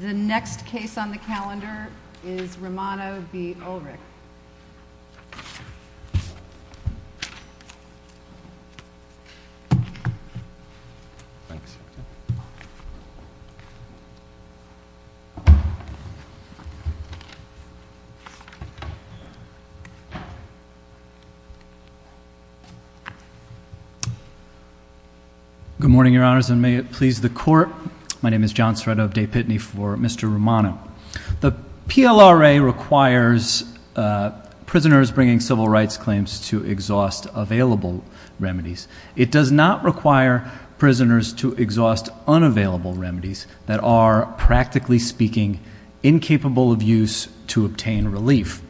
The next case on the calendar is Romano v. Ulrich. Good morning, Your Honors, and may it please the Court. My name is John Sreddo of De Pitney for Mr. Romano. The PLRA requires prisoners bringing civil rights claims to exhaust available remedies. It does not require prisoners to exhaust unavailable remedies that are, practically speaking, incapable of use to obtain relief.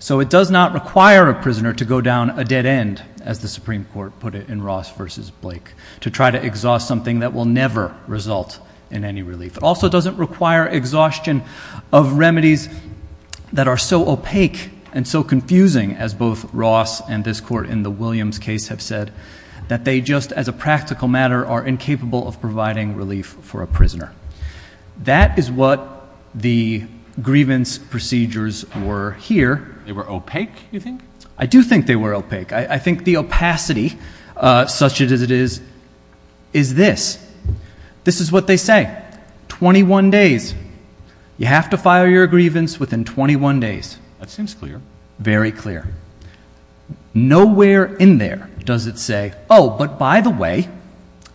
So it does not require a prisoner to go down a dead end, as the Supreme Court put it in Ross v. Blake, to try to exhaust something that will never result in any relief. It also doesn't require exhaustion of remedies that are so opaque and so confusing, as both they just, as a practical matter, are incapable of providing relief for a prisoner. That is what the grievance procedures were here. They were opaque, you think? I do think they were opaque. I think the opacity, such as it is, is this. This is what they say. Twenty-one days. You have to file your grievance within twenty-one days. That seems clear. Very clear. Nowhere in there does it say, oh, but by the way,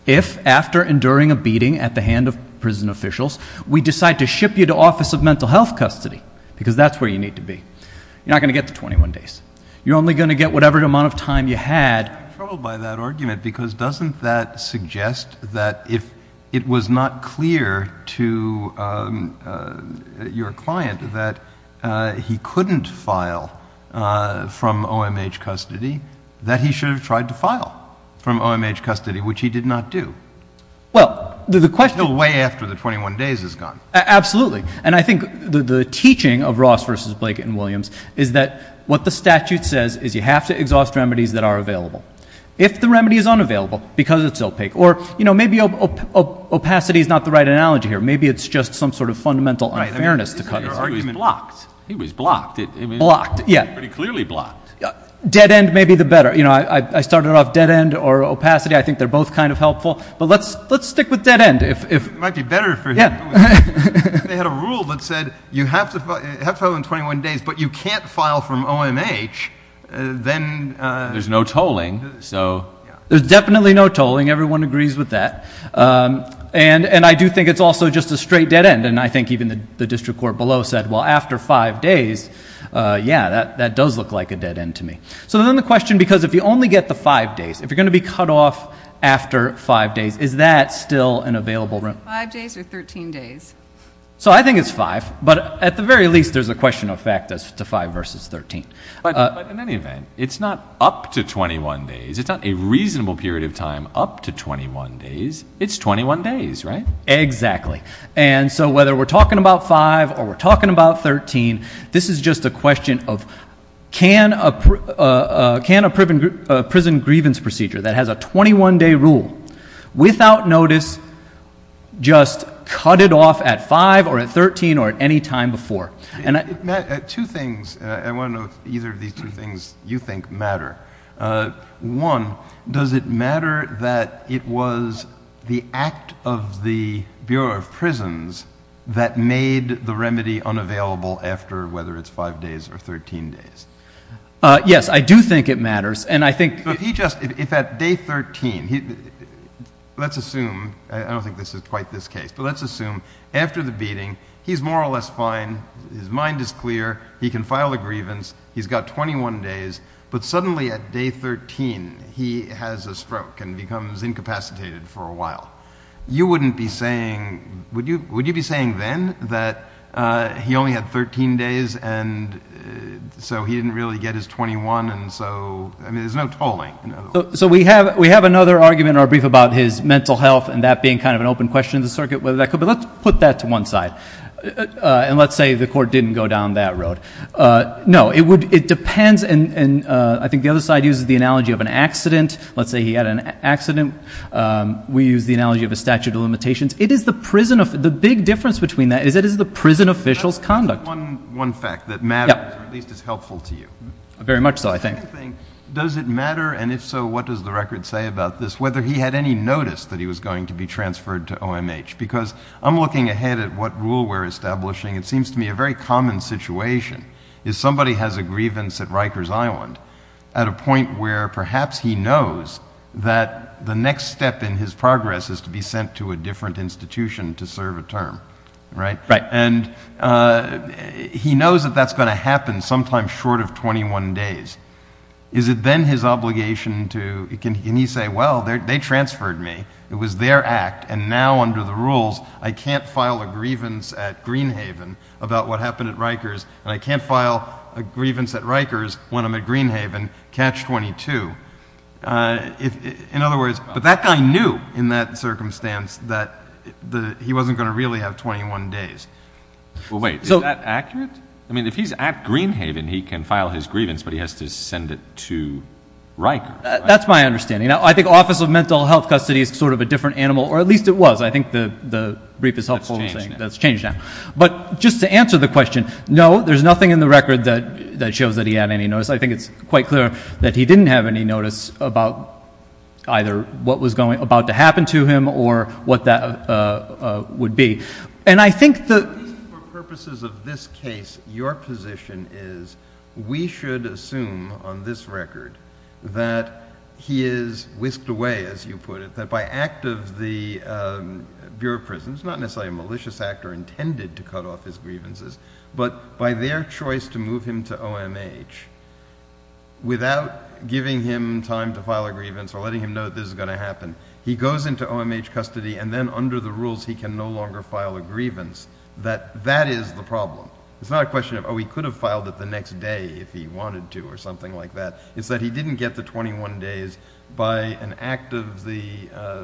if, after enduring a beating at the hand of prison officials, we decide to ship you to Office of Mental Health Custody, because that's where you need to be, you're not going to get the twenty-one days. You're only going to get whatever amount of time you had. I'm troubled by that argument, because doesn't that suggest that if it was not clear to your client that he couldn't file from OMH custody, that he should have tried to file from OMH custody, which he did not do? Well, the question— Until way after the twenty-one days is gone. Absolutely. And I think the teaching of Ross v. Blake and Williams is that what the statute says is you have to exhaust remedies that are available. If the remedy is unavailable, because it's opaque, or, you know, maybe opacity is not the right analogy here. Maybe it's just some sort of fundamental unfairness to cut the argument. Right. I mean, he was blocked. He was blocked. Blocked. Yeah. Pretty clearly blocked. Dead end may be the better. You know, I started off dead end or opacity. I think they're both kind of helpful. But let's stick with dead end. It might be better for him. If they had a rule that said you have to file in twenty-one days, but you can't file from OMH, then— There's no tolling, so— There's definitely no tolling. Everyone agrees with that. And I do think it's also just a straight dead end. And I think even the district court below said, well, after five days, yeah, that does look like a dead end to me. So then the question, because if you only get the five days, if you're going to be cut off after five days, is that still an available room? Five days or thirteen days? So I think it's five. But at the very least, there's a question of fact as to five versus thirteen. But in any event, it's not up to twenty-one days. It's not a reasonable period of time up to twenty-one days. It's twenty-one days, right? Exactly. And so whether we're talking about five or we're talking about thirteen, this is just a question of can a prison grievance procedure that has a twenty-one-day rule, without notice, just cut it off at five or at thirteen or at any time before? Matt, two things. I want to know if either of these two things you think matter. One, does it matter that it was the act of the Bureau of Prisons that made the remedy unavailable after whether it's five days or thirteen days? Yes, I do think it matters. And I think— But if he just, if at day thirteen, let's assume, I don't think this is quite this case, but let's assume after the beating, he's more or less fine, his mind is clear, he can file a grievance, he's got twenty-one days, but suddenly at day thirteen, he has a stroke and becomes incapacitated for a while. You wouldn't be saying, would you be saying then that he only had thirteen days and so he didn't really get his twenty-one and so, I mean, there's no tolling. So we have another argument in our brief about his mental health and that being kind of an open question in the circuit, but let's put that to one side. And let's say the court didn't go down that road. No, it depends, and I think the other side uses the analogy of an accident. Let's say he had an accident. We use the analogy of a statute of limitations. It is the prison, the big difference between that is it is the prison official's conduct. One fact that matters, or at least is helpful to you. Very much so, I think. Does it matter, and if so, what does the record say about this, whether he had any notice that he was going to be transferred to OMH? Because I'm looking ahead at what rule we're It's a very common situation. If somebody has a grievance at Rikers Island at a point where perhaps he knows that the next step in his progress is to be sent to a different institution to serve a term, right? Right. And he knows that that's going to happen sometime short of twenty-one days. Is it then his obligation to, can he say, well, they transferred me. It was their act, and now under the rules, I can't file a grievance at Greenhaven about what happened at Rikers, and I can't file a grievance at Rikers when I'm at Greenhaven, catch twenty-two. In other words, but that guy knew in that circumstance that he wasn't going to really have twenty-one days. Well, wait, is that accurate? I mean, if he's at Greenhaven, he can file his grievance, but he has to send it to Rikers, right? That's my understanding. Now, I think Office of Mental Health Custody is sort of a different animal, or at least it was. I think the brief is helpful in saying that's changed now. But just to answer the question, no, there's nothing in the record that shows that he had any notice. I think it's quite clear that he didn't have any notice about either what was about to happen to him or what that would be. And I think the— For purposes of this case, your position is we should assume on this record that he is the Bureau of Prisons, not necessarily a malicious actor intended to cut off his grievances, but by their choice to move him to OMH, without giving him time to file a grievance or letting him know that this is going to happen, he goes into OMH custody and then under the rules he can no longer file a grievance, that that is the problem. It's not a question of, oh, he could have filed it the next day if he wanted to or something like that. It's that he didn't get the 21 days by an act of the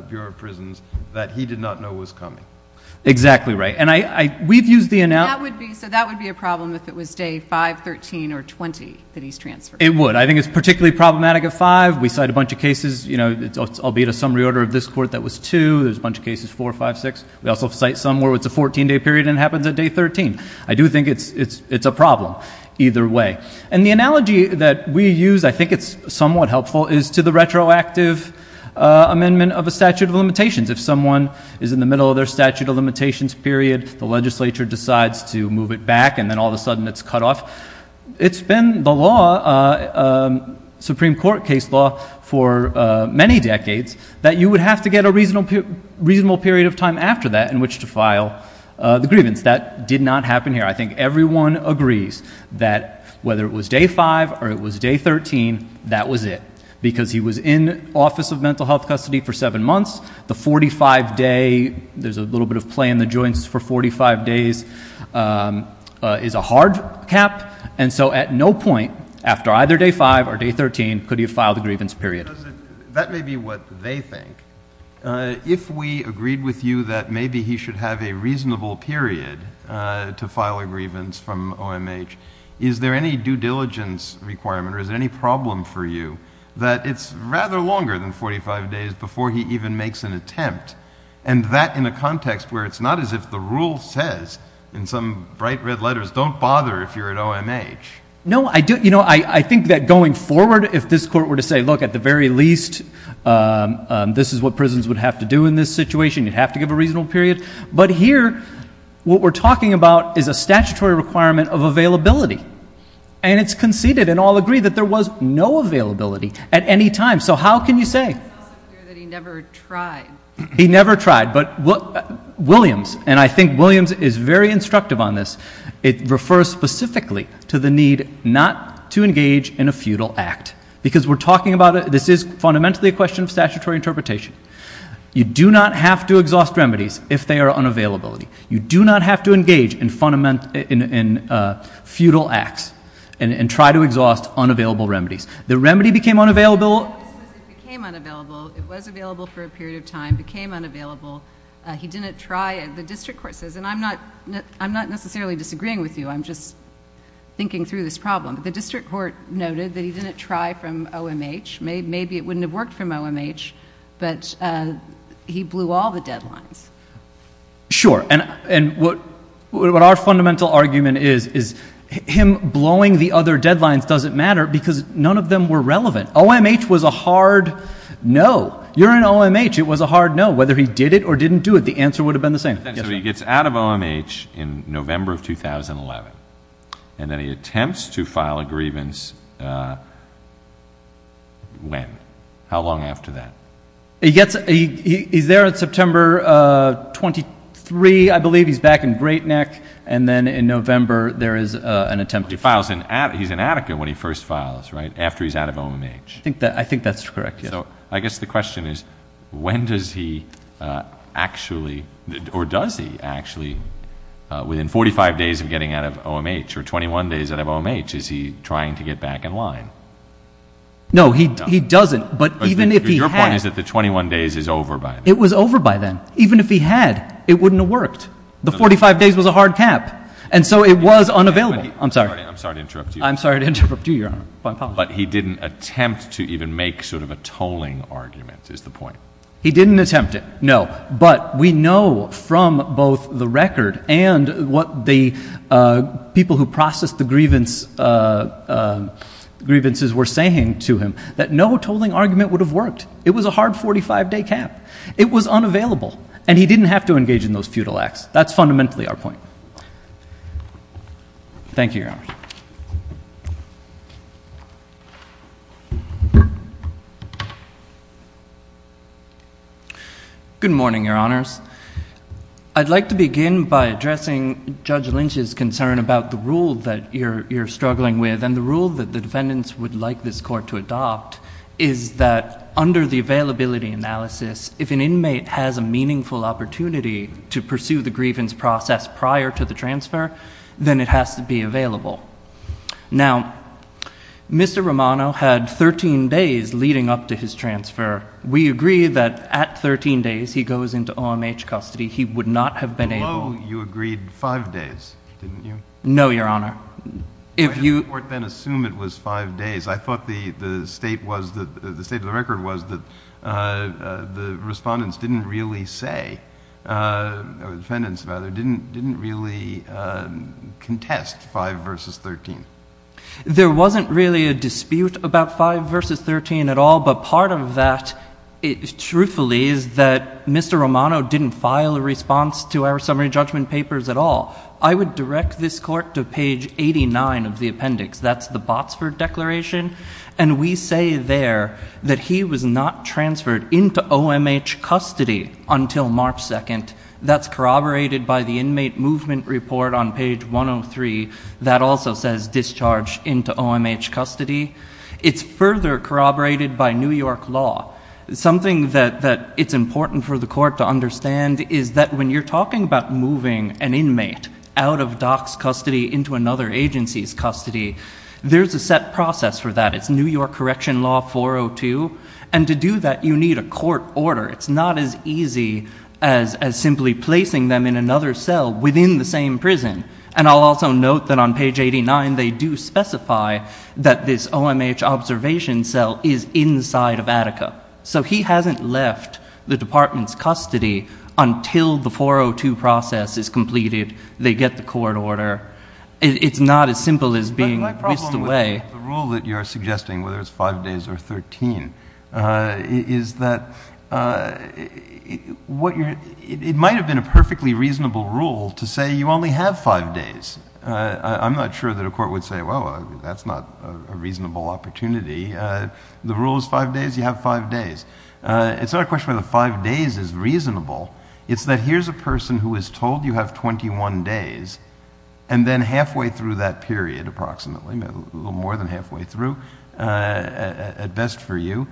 Bureau of Prisons that he did not know was coming. Exactly right. And I—we've used the— That would be—so that would be a problem if it was day 5, 13, or 20 that he's transferred. It would. I think it's particularly problematic at 5. We cite a bunch of cases, you know, albeit a summary order of this court that was 2. There's a bunch of cases 4, 5, 6. We also cite some where it's a 14-day period and it happens at day 13. I do think it's either way. And the analogy that we use, I think it's somewhat helpful, is to the retroactive amendment of a statute of limitations. If someone is in the middle of their statute of limitations period, the legislature decides to move it back and then all of a sudden it's cut off. It's been the law, Supreme Court case law, for many decades that you would have to get a reasonable period of time after that in which to file the grievance. That did not happen. So if someone agrees that whether it was day 5 or it was day 13, that was it because he was in Office of Mental Health Custody for 7 months. The 45-day—there's a little bit of play in the joints for 45 days—is a hard cap. And so at no point after either day 5 or day 13 could he have filed a grievance period. That may be what they think. If we agreed with you that maybe he should have a reasonable period to file a grievance from OMH, is there any due diligence requirement or is there any problem for you that it's rather longer than 45 days before he even makes an attempt and that in a context where it's not as if the rule says in some bright red letters, don't bother if you're at OMH. No, I think that going forward, if this court were to say, look, at the very least, this is what prisons would have to do in this situation, you'd have to give a reasonable period. But here, what we're talking about is a statutory requirement of availability. And it's conceded and all agree that there was no availability at any time. So how can you say? It's also clear that he never tried. He never tried. But Williams, and I think Williams is very instructive on this, it refers specifically to the need not to engage in a futile act. Because we're talking about a—this is fundamentally a question of statutory interpretation. You do not have to exhaust remedies if they are unavailability. You do not have to engage in futile acts and try to exhaust unavailable remedies. The remedy became unavailable— It became unavailable. It was available for a period of time, became unavailable. He didn't try. The district court says, and I'm not necessarily disagreeing with you, I'm just thinking through this problem. The district court noted that he didn't try from OMH. Maybe it wouldn't have worked from OMH, but he blew all the deadlines. Sure. And what our fundamental argument is, is him blowing the other deadlines doesn't matter because none of them were relevant. OMH was a hard no. You're in OMH. It was a hard no. Whether he did it or didn't do it, the answer would have been the same. So he gets out of OMH in November of 2011, and then he attempts to file a grievance when? How long after that? He's there on September 23, I believe. He's back in Great Neck. And then in November, there is an attempt to file— He's in Attica when he first files, right? After he's out of OMH. I think that's correct, yes. So I guess the question is, when does he actually or does he actually, within 45 days of getting out of OMH or 21 days out of OMH, is he trying to get back in line? No, he doesn't, but even if he had— Your point is that the 21 days is over by then. It was over by then. Even if he had, it wouldn't have worked. The 45 days was a hard cap, and so it was unavailable. I'm sorry. I'm sorry to interrupt you. I'm sorry to interrupt you, Your Honor. But he didn't attempt to even make sort of a tolling argument, is the point. He didn't attempt it, no. But we from both the record and what the people who processed the grievances were saying to him, that no tolling argument would have worked. It was a hard 45-day cap. It was unavailable, and he didn't have to engage in those feudal acts. That's fundamentally our point. Thank you, Your Honor. Good morning, Your Honors. I'd like to begin by addressing Judge Lynch's concern about the rule that you're struggling with, and the rule that the defendants would like this court to adopt is that under the availability analysis, if an inmate has a meaningful opportunity to pursue the grievance process prior to the transfer, then it has to be available. Now, Mr. Romano had 13 days leading up to his transfer. We agree that at 13 days, he goes into OMH custody. He would not have been able— Below, you agreed five days, didn't you? No, Your Honor. If you— Why did the court then assume it was five days? I thought the state of the record was that the respondents didn't really say—or defendants, rather—didn't really contest 5 v. 13. There wasn't really a dispute about 5 v. 13 at all, but part of that, truthfully, is that Mr. Romano didn't file a response to our summary judgment papers at all. I would direct this court to page 89 of the appendix. That's the Botsford Declaration, and we say there that he was not transferred into OMH custody until March 2nd. That's corroborated by the Inmate Movement Report on page 103. That also says discharge into OMH custody. It's further corroborated by New York law. Something that it's important for the court to understand is that when you're talking about moving an inmate out of DOC's custody into another agency's custody, there's a set process for that. It's New York Correction Law 402, and to do that, you need a court order. It's not as easy as simply placing them in another cell within the same prison. And I'll also note that on page 89, they do specify that this OMH observation cell is inside of Attica. So he hasn't left the department's custody until the 402 process is completed. They get the court order. It's not as simple as being whisked away. But my problem with the rule that you're suggesting, whether it's 5 days or 13, is that it might have been a perfectly reasonable rule to say you only have 5 days. I'm not sure that a court would say, well, that's not a reasonable opportunity. The rule is 5 days, you have 5 days. It's not a question whether 5 days is reasonable. It's that here's a person who is told you have 21 days, and then halfway through that period, approximately, a little more than halfway through, at best for you,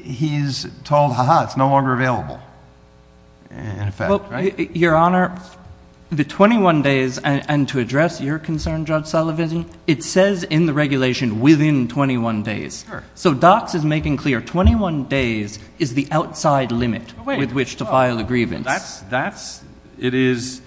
he's told, ha ha, it's no longer available. In effect, right? Your Honor, the 21 days, and to address your concern, Judge Sullivan, it says in the regulation within 21 days. So DOC's is making clear 21 days is the outside limit with which to file a grievance. That's, that's, it is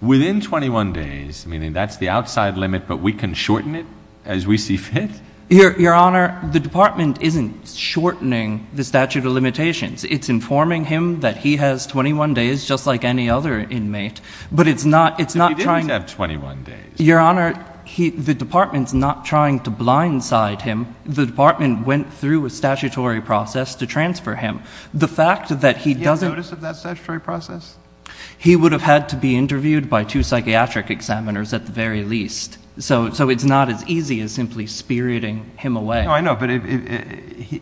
within 21 days, meaning that's the outside limit, but we can shorten it as we see fit? Your Honor, the department isn't shortening the statute of limitations. It's informing him that he has 21 days, just like any other inmate. But it's not, it's not trying to- But he did have 21 days. Your Honor, the department's not trying to blindside him. The department went through a statutory process to transfer him. The fact that he doesn't- Did he get notice of that statutory process? He would have had to be interviewed by two psychiatric examiners, at the very least. So, so it's not as easy as simply spiriting him away. No, I know, but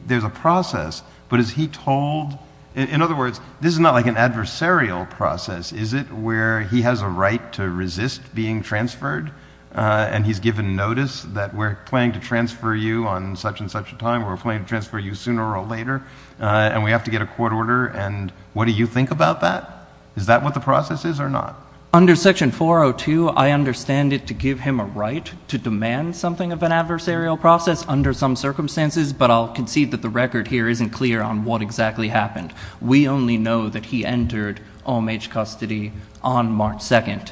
there's a process, but is he told, in other words, this is not like an adversarial process, is it? Where he has a right to resist being transferred, and he's given notice that we're planning to transfer you on such and such a time, we're planning to transfer you sooner or later, and we have to get a court order, and what do you think about that? Is that what the process is or not? Under section 402, I understand it to give him a right to demand something of an adversarial process under some circumstances, but I'll concede that the record here isn't clear on what exactly happened. We only know that he entered homage custody on March 2nd.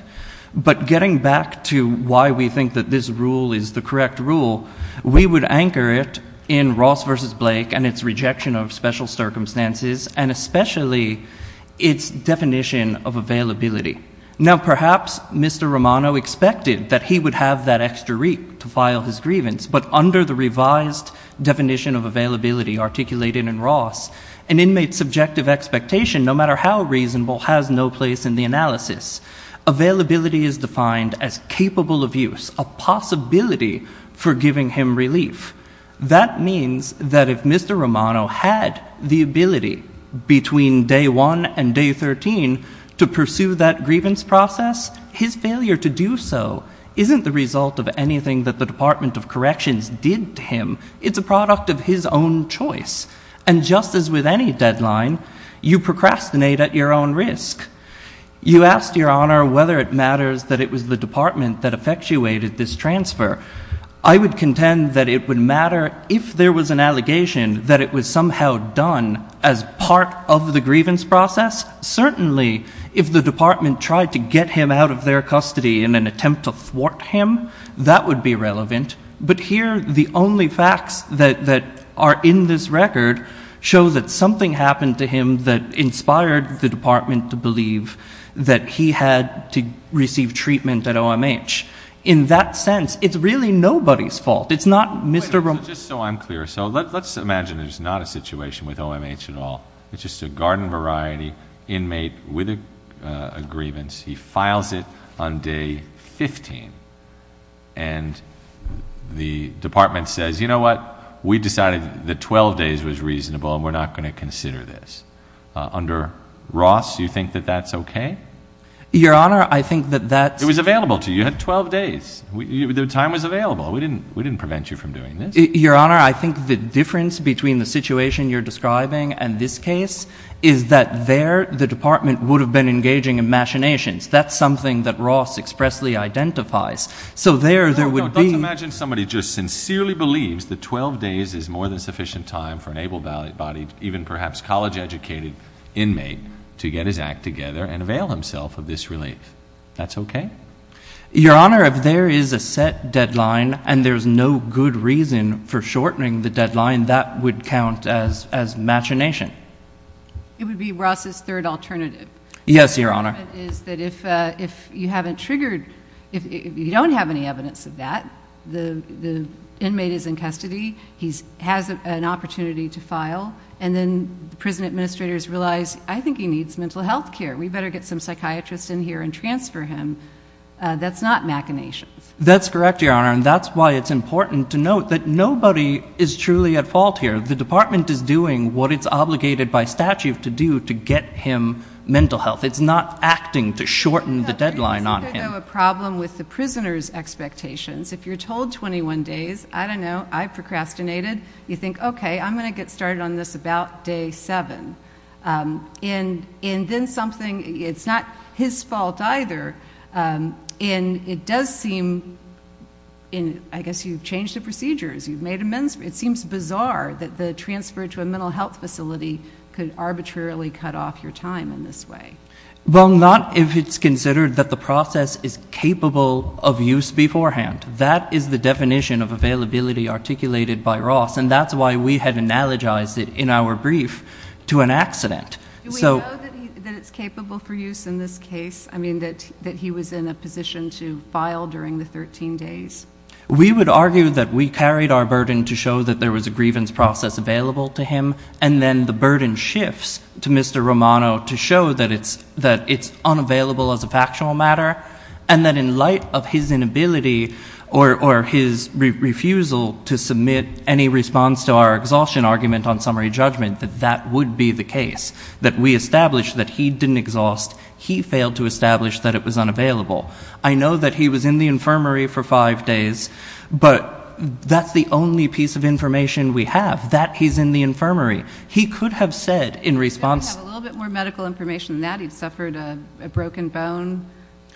But getting back to why we think that this rule is the correct rule, we would anchor it in Ross versus Blake and its rejection of special circumstances and especially its definition of availability. Now, perhaps Mr. Romano expected that he would have that extra week to file his grievance, but under the revised definition of availability articulated in Ross, an inmate's subjective expectation, no matter how reasonable, has no place in the analysis. Availability is defined as capable of use, a possibility for giving him relief. That means that if Mr. Romano had the ability between day 1 and day 13 to pursue that grievance process, his failure to do so isn't the result of anything that the Department of Corrections did to him. It's a product of his own choice, and just as with any deadline, you procrastinate at your own risk. You asked, Your Honor, whether it matters that it was the department that effectuated this transfer. I would contend that it would matter if there was an allegation that it was somehow done as part of the grievance process. Certainly, if the department tried to get him out of their custody in an attempt to thwart him, that would be relevant. But here, the only facts that are in this record show that something happened to him that inspired the O.M.H. In that sense, it's really nobody's fault. It's not Mr. Romano's. Just so I'm clear, let's imagine there's not a situation with O.M.H. at all. It's just a garden variety inmate with a grievance. He files it on day 15, and the department says, you know what, we decided that 12 days was reasonable, and we're not going to consider this. Under Ross, do you think that that's okay? Your Honor, I think that that's okay. You had 12 days. The time was available. We didn't prevent you from doing this. Your Honor, I think the difference between the situation you're describing and this case is that there, the department would have been engaging in machinations. That's something that Ross expressly identifies. So there, there would be Let's imagine somebody just sincerely believes that 12 days is more than sufficient time for an able-bodied, even perhaps college-educated inmate to get his act together and avail himself of this relief. That's okay? Your Honor, if there is a set deadline, and there's no good reason for shortening the deadline, that would count as machination. It would be Ross's third alternative. Yes, Your Honor. Is that if you haven't triggered, if you don't have any evidence of that, the inmate is in custody, he has an opportunity to file, and then the prison administrators realize, I think he transfer him, that's not machinations. That's correct, Your Honor. And that's why it's important to note that nobody is truly at fault here. The department is doing what it's obligated by statute to do, to get him mental health. It's not acting to shorten the deadline on him. There's a problem with the prisoner's expectations. If you're told 21 days, I don't know, I procrastinated, you think, okay, I'm going to get started on this about day seven. And then something, it's not his fault either, and it does seem, I guess you've changed the procedures, you've made amends, it seems bizarre that the transfer to a mental health facility could arbitrarily cut off your time in this way. Well, not if it's considered that the process is capable of use beforehand. That is the definition of availability articulated by Ross, and that's why we had analogized it in our brief to an accident. Do we know that it's capable for use in this case, I mean, that he was in a position to file during the 13 days? We would argue that we carried our burden to show that there was a grievance process available to him, and then the burden shifts to Mr. Romano to show that it's unavailable as a factual matter, and that in light of his inability or his refusal to submit any response to our would be the case, that we established that he didn't exhaust, he failed to establish that it was unavailable. I know that he was in the infirmary for five days, but that's the only piece of information we have, that he's in the infirmary. He could have said in response... He could have a little bit more medical information than that, he'd suffered a broken bone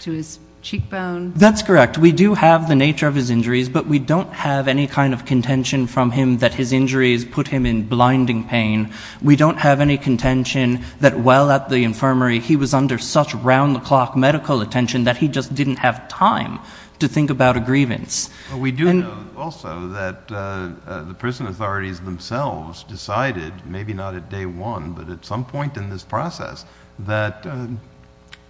to his cheekbone. That's correct. We do have the nature of his injuries, but we don't have any kind of contention from him that his injuries put him in blinding pain. We don't have any contention that while at the infirmary, he was under such round-the-clock medical attention that he just didn't have time to think about a grievance. We do know also that the prison authorities themselves decided, maybe not at day one, but at some point in this process, that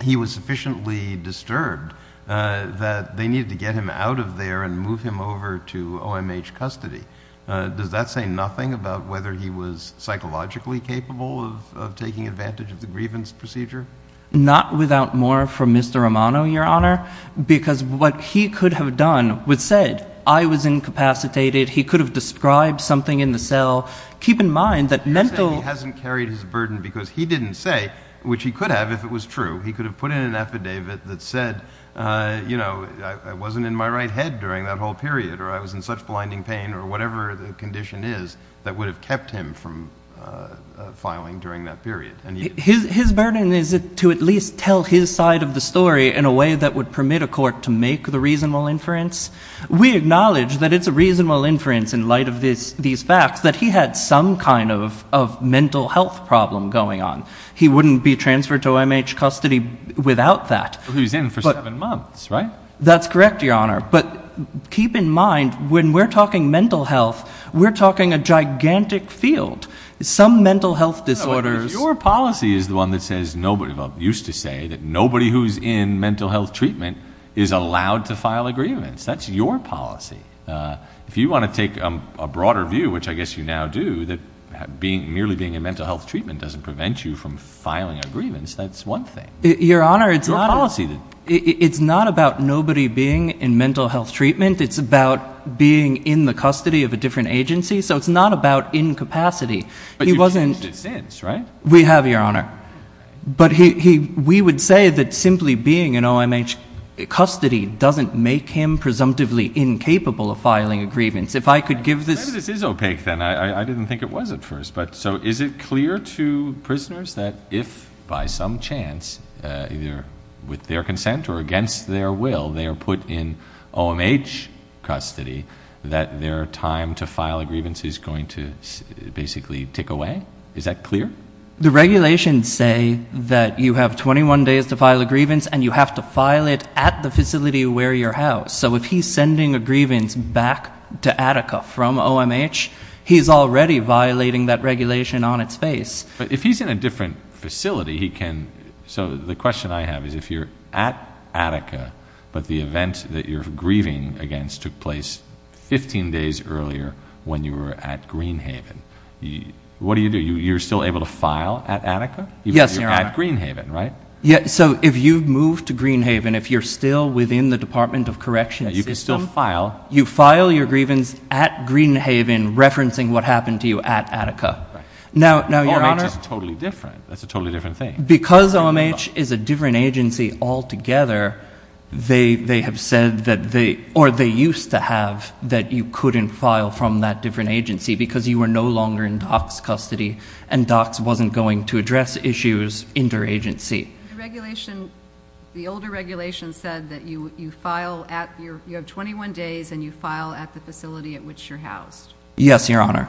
he was sufficiently disturbed that they needed to get out of there and move him over to OMH custody. Does that say nothing about whether he was psychologically capable of taking advantage of the grievance procedure? Not without more from Mr. Romano, Your Honor, because what he could have done, with said, I was incapacitated, he could have described something in the cell. Keep in mind that mental... He hasn't carried his burden because he didn't say, which he could have if it was true, he could have put in an affidavit that said, I wasn't in my right head during that whole period, or I was in such blinding pain, or whatever the condition is that would have kept him from filing during that period. His burden is to at least tell his side of the story in a way that would permit a court to make the reasonable inference. We acknowledge that it's a reasonable inference in light of these facts, that he had some kind of mental health problem going on. He wouldn't be transferred to OMH custody without that. Who's in for seven months, right? That's correct, Your Honor. But keep in mind, when we're talking mental health, we're talking a gigantic field. Some mental health disorders... Your policy is the one that says nobody, well, used to say that nobody who's in mental health treatment is allowed to file a grievance. That's your policy. If you want to take a broader view, which I guess you now do, that merely being in mental health treatment doesn't prevent you from Your Honor, it's not about nobody being in mental health treatment. It's about being in the custody of a different agency. So it's not about incapacity. But you've changed it since, right? We have, Your Honor. But we would say that simply being in OMH custody doesn't make him presumptively incapable of filing a grievance. If I could give this... Maybe this is opaque then. I didn't think it was at first. So is it clear to prisoners that if, by some chance, either with their consent or against their will, they are put in OMH custody, that their time to file a grievance is going to basically tick away? Is that clear? The regulations say that you have 21 days to file a grievance and you have to file it at the facility where you're housed. So if he's sending a grievance back to Attica from OMH, he's already violating that regulation on its face. But if he's in a different facility, he can... So the question I have is, if you're at Attica, but the event that you're grieving against took place 15 days earlier when you were at Greenhaven, what do you do? You're still able to file at Attica? Yes, Your Honor. You're at Greenhaven, right? Yeah. So if you move to Greenhaven, if you're still within the Department of Correction system... You can still file. You file your grievance at Greenhaven, referencing what happened to you at Attica. Now, Your Honor... OMH is totally different. That's a totally different thing. Because OMH is a different agency altogether, they have said that they... Or they used to have that you couldn't file from that different agency because you were no longer in DOCS custody and DOCS wasn't going to address issues interagency. The older regulation said that you have 21 days and you file at the facility at which you're housed. Yes, Your Honor.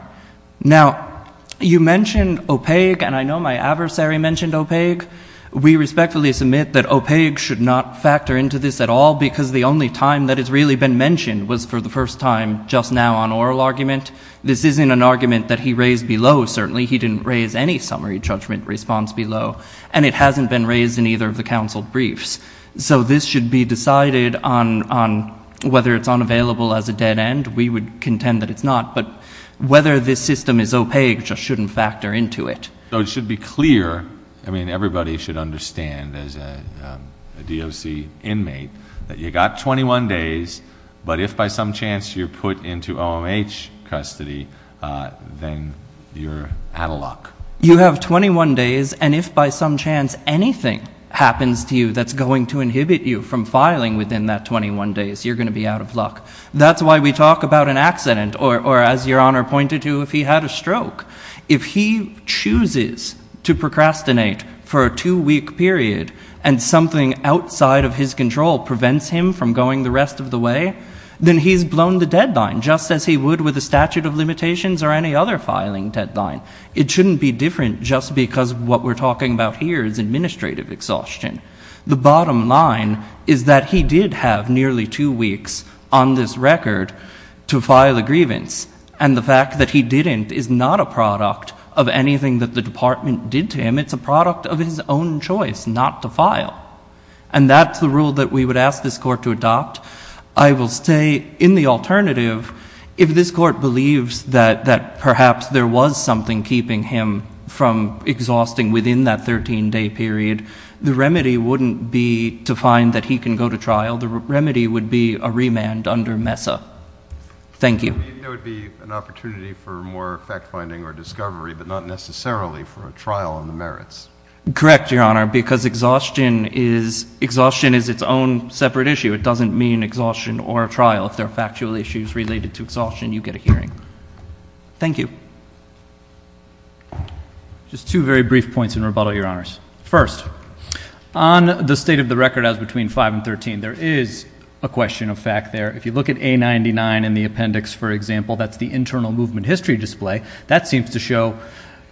Now, you mentioned opaque, and I know my adversary mentioned opaque. We respectfully submit that opaque should not factor into this at all because the only time that it's really been mentioned was for the first time just now on oral argument. This isn't an argument that he raised below. Certainly, he didn't raise any summary judgment response below, and it hasn't been raised in either of the counsel briefs. So this should be decided on whether it's unavailable as a dead end. We would contend that it's not, but whether this system is opaque just shouldn't factor into it. So it should be clear. I mean, everybody should understand as a DOC inmate that you got 21 days, but if by some chance you're put into OMH custody, then you're out of luck. You have 21 days, and if by some chance anything happens to you that's going to inhibit you from filing within that 21 days, you're going to be out of luck. That's why we talk about an accident, or as Your Honor pointed to, if he had a stroke. If he chooses to procrastinate for a two-week period and something outside of his control prevents him from going the rest of the way, then he's blown the deadline just as he would with a statute of limitations or any other filing deadline. It shouldn't be different just because what we're talking about here is administrative exhaustion. The bottom line is that he did have nearly two weeks on this record to file a grievance, and the fact that he didn't is not a product of anything that the Department did to him. It's a product of his own choice not to file, and that's the rule that we would ask this Court to adopt. I will stay in the alternative if this Court believes that perhaps there was something keeping him from exhausting within that 13-day period. The remedy wouldn't be to find that he can go to trial. The remedy would be a remand under MESA. Thank you. There would be an opportunity for more fact-finding or discovery, but not necessarily for a trial on the merits. Correct, Your Honor, because exhaustion is its own separate issue. It doesn't mean exhaustion or a trial. If there are factual issues related to exhaustion, you get a hearing. Thank you. Just two very brief points in rebuttal, Your Honors. First, on the state of the record as between 5 and 13, there is a question of fact there. If you look at A99 in the appendix, for example, that's the internal movement history display. That seems to show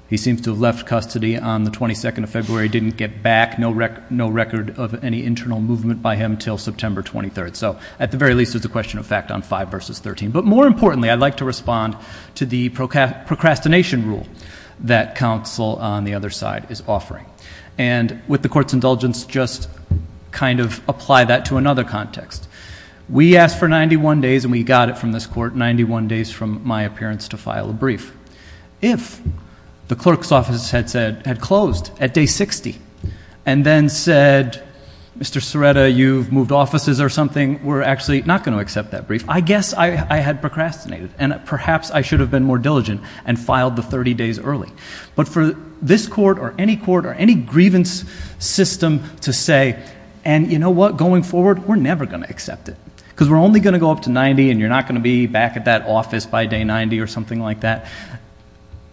he seems to have left custody on the 22nd of February, didn't get back, no record of any internal movement by him until September 23rd. So at the very least, there's a question of fact on 5 versus 13. But more that counsel on the other side is offering. And with the court's indulgence, just kind of apply that to another context. We asked for 91 days, and we got it from this court, 91 days from my appearance to file a brief. If the clerk's office had said, had closed at day 60, and then said, Mr. Serretta, you've moved offices or something, we're actually not going to accept that brief. I guess I had procrastinated, and perhaps I should have been more diligent and filed the 30 days early. But for this court or any court or any grievance system to say, and you know what, going forward, we're never going to accept it. Because we're only going to go up to 90, and you're not going to be back at that office by day 90 or something like that.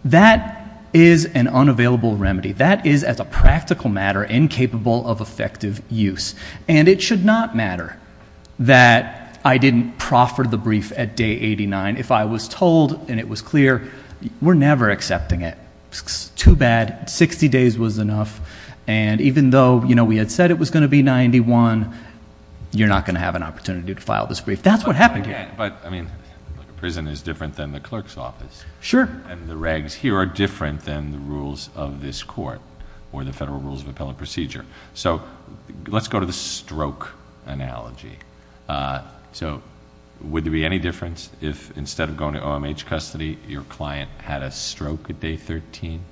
That is an unavailable remedy. That is, as a practical matter, incapable of effective use. And it should not matter that I didn't proffer the brief at day 89 if I was told, and it was clear, we're never accepting it. Too bad, 60 days was enough. And even though we had said it was going to be 91, you're not going to have an opportunity to file this brief. That's what happened here. But prison is different than the clerk's office. Sure. And the regs here are different than the rules of this court, or the Federal Rules of Appellate Procedure. So let's go to the stroke analogy. So would there be any difference if, instead of going to OMH custody, your client had a stroke at day 13?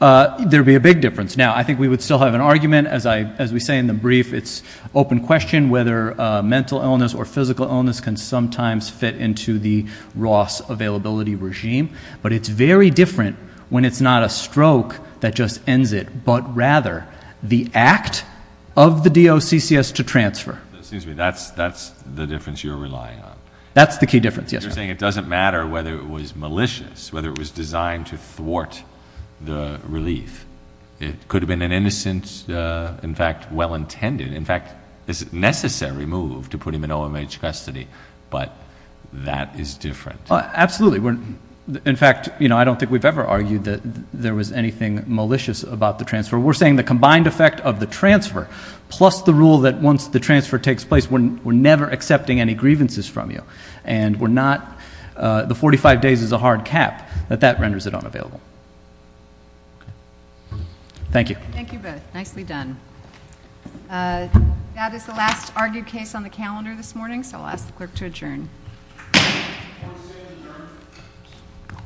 There'd be a big difference. Now, I think we would still have an argument. As we say in the brief, it's open question whether mental illness or physical illness can sometimes fit into the Ross availability regime. But it's very different when it's not a stroke that just ends it, but rather the act of the DOCCS to transfer. That's the difference you're relying on. That's the key difference, yes. You're saying it doesn't matter whether it was malicious, whether it was designed to thwart the relief. It could have been an innocent, in fact, well-intended, in fact, necessary move to put him in OMH custody. But that is different. Absolutely. In fact, I don't think we've ever argued that there was anything malicious about the transfer. We're saying the combined effect of the transfer plus the rule that once the transfer takes place, we're never accepting any grievances from you, and the 45 days is a hard cap, that that renders it unavailable. Thank you. Thank you both. Nicely done. That is the last argued case on the calendar this morning, so I'll ask the clerk to adjourn.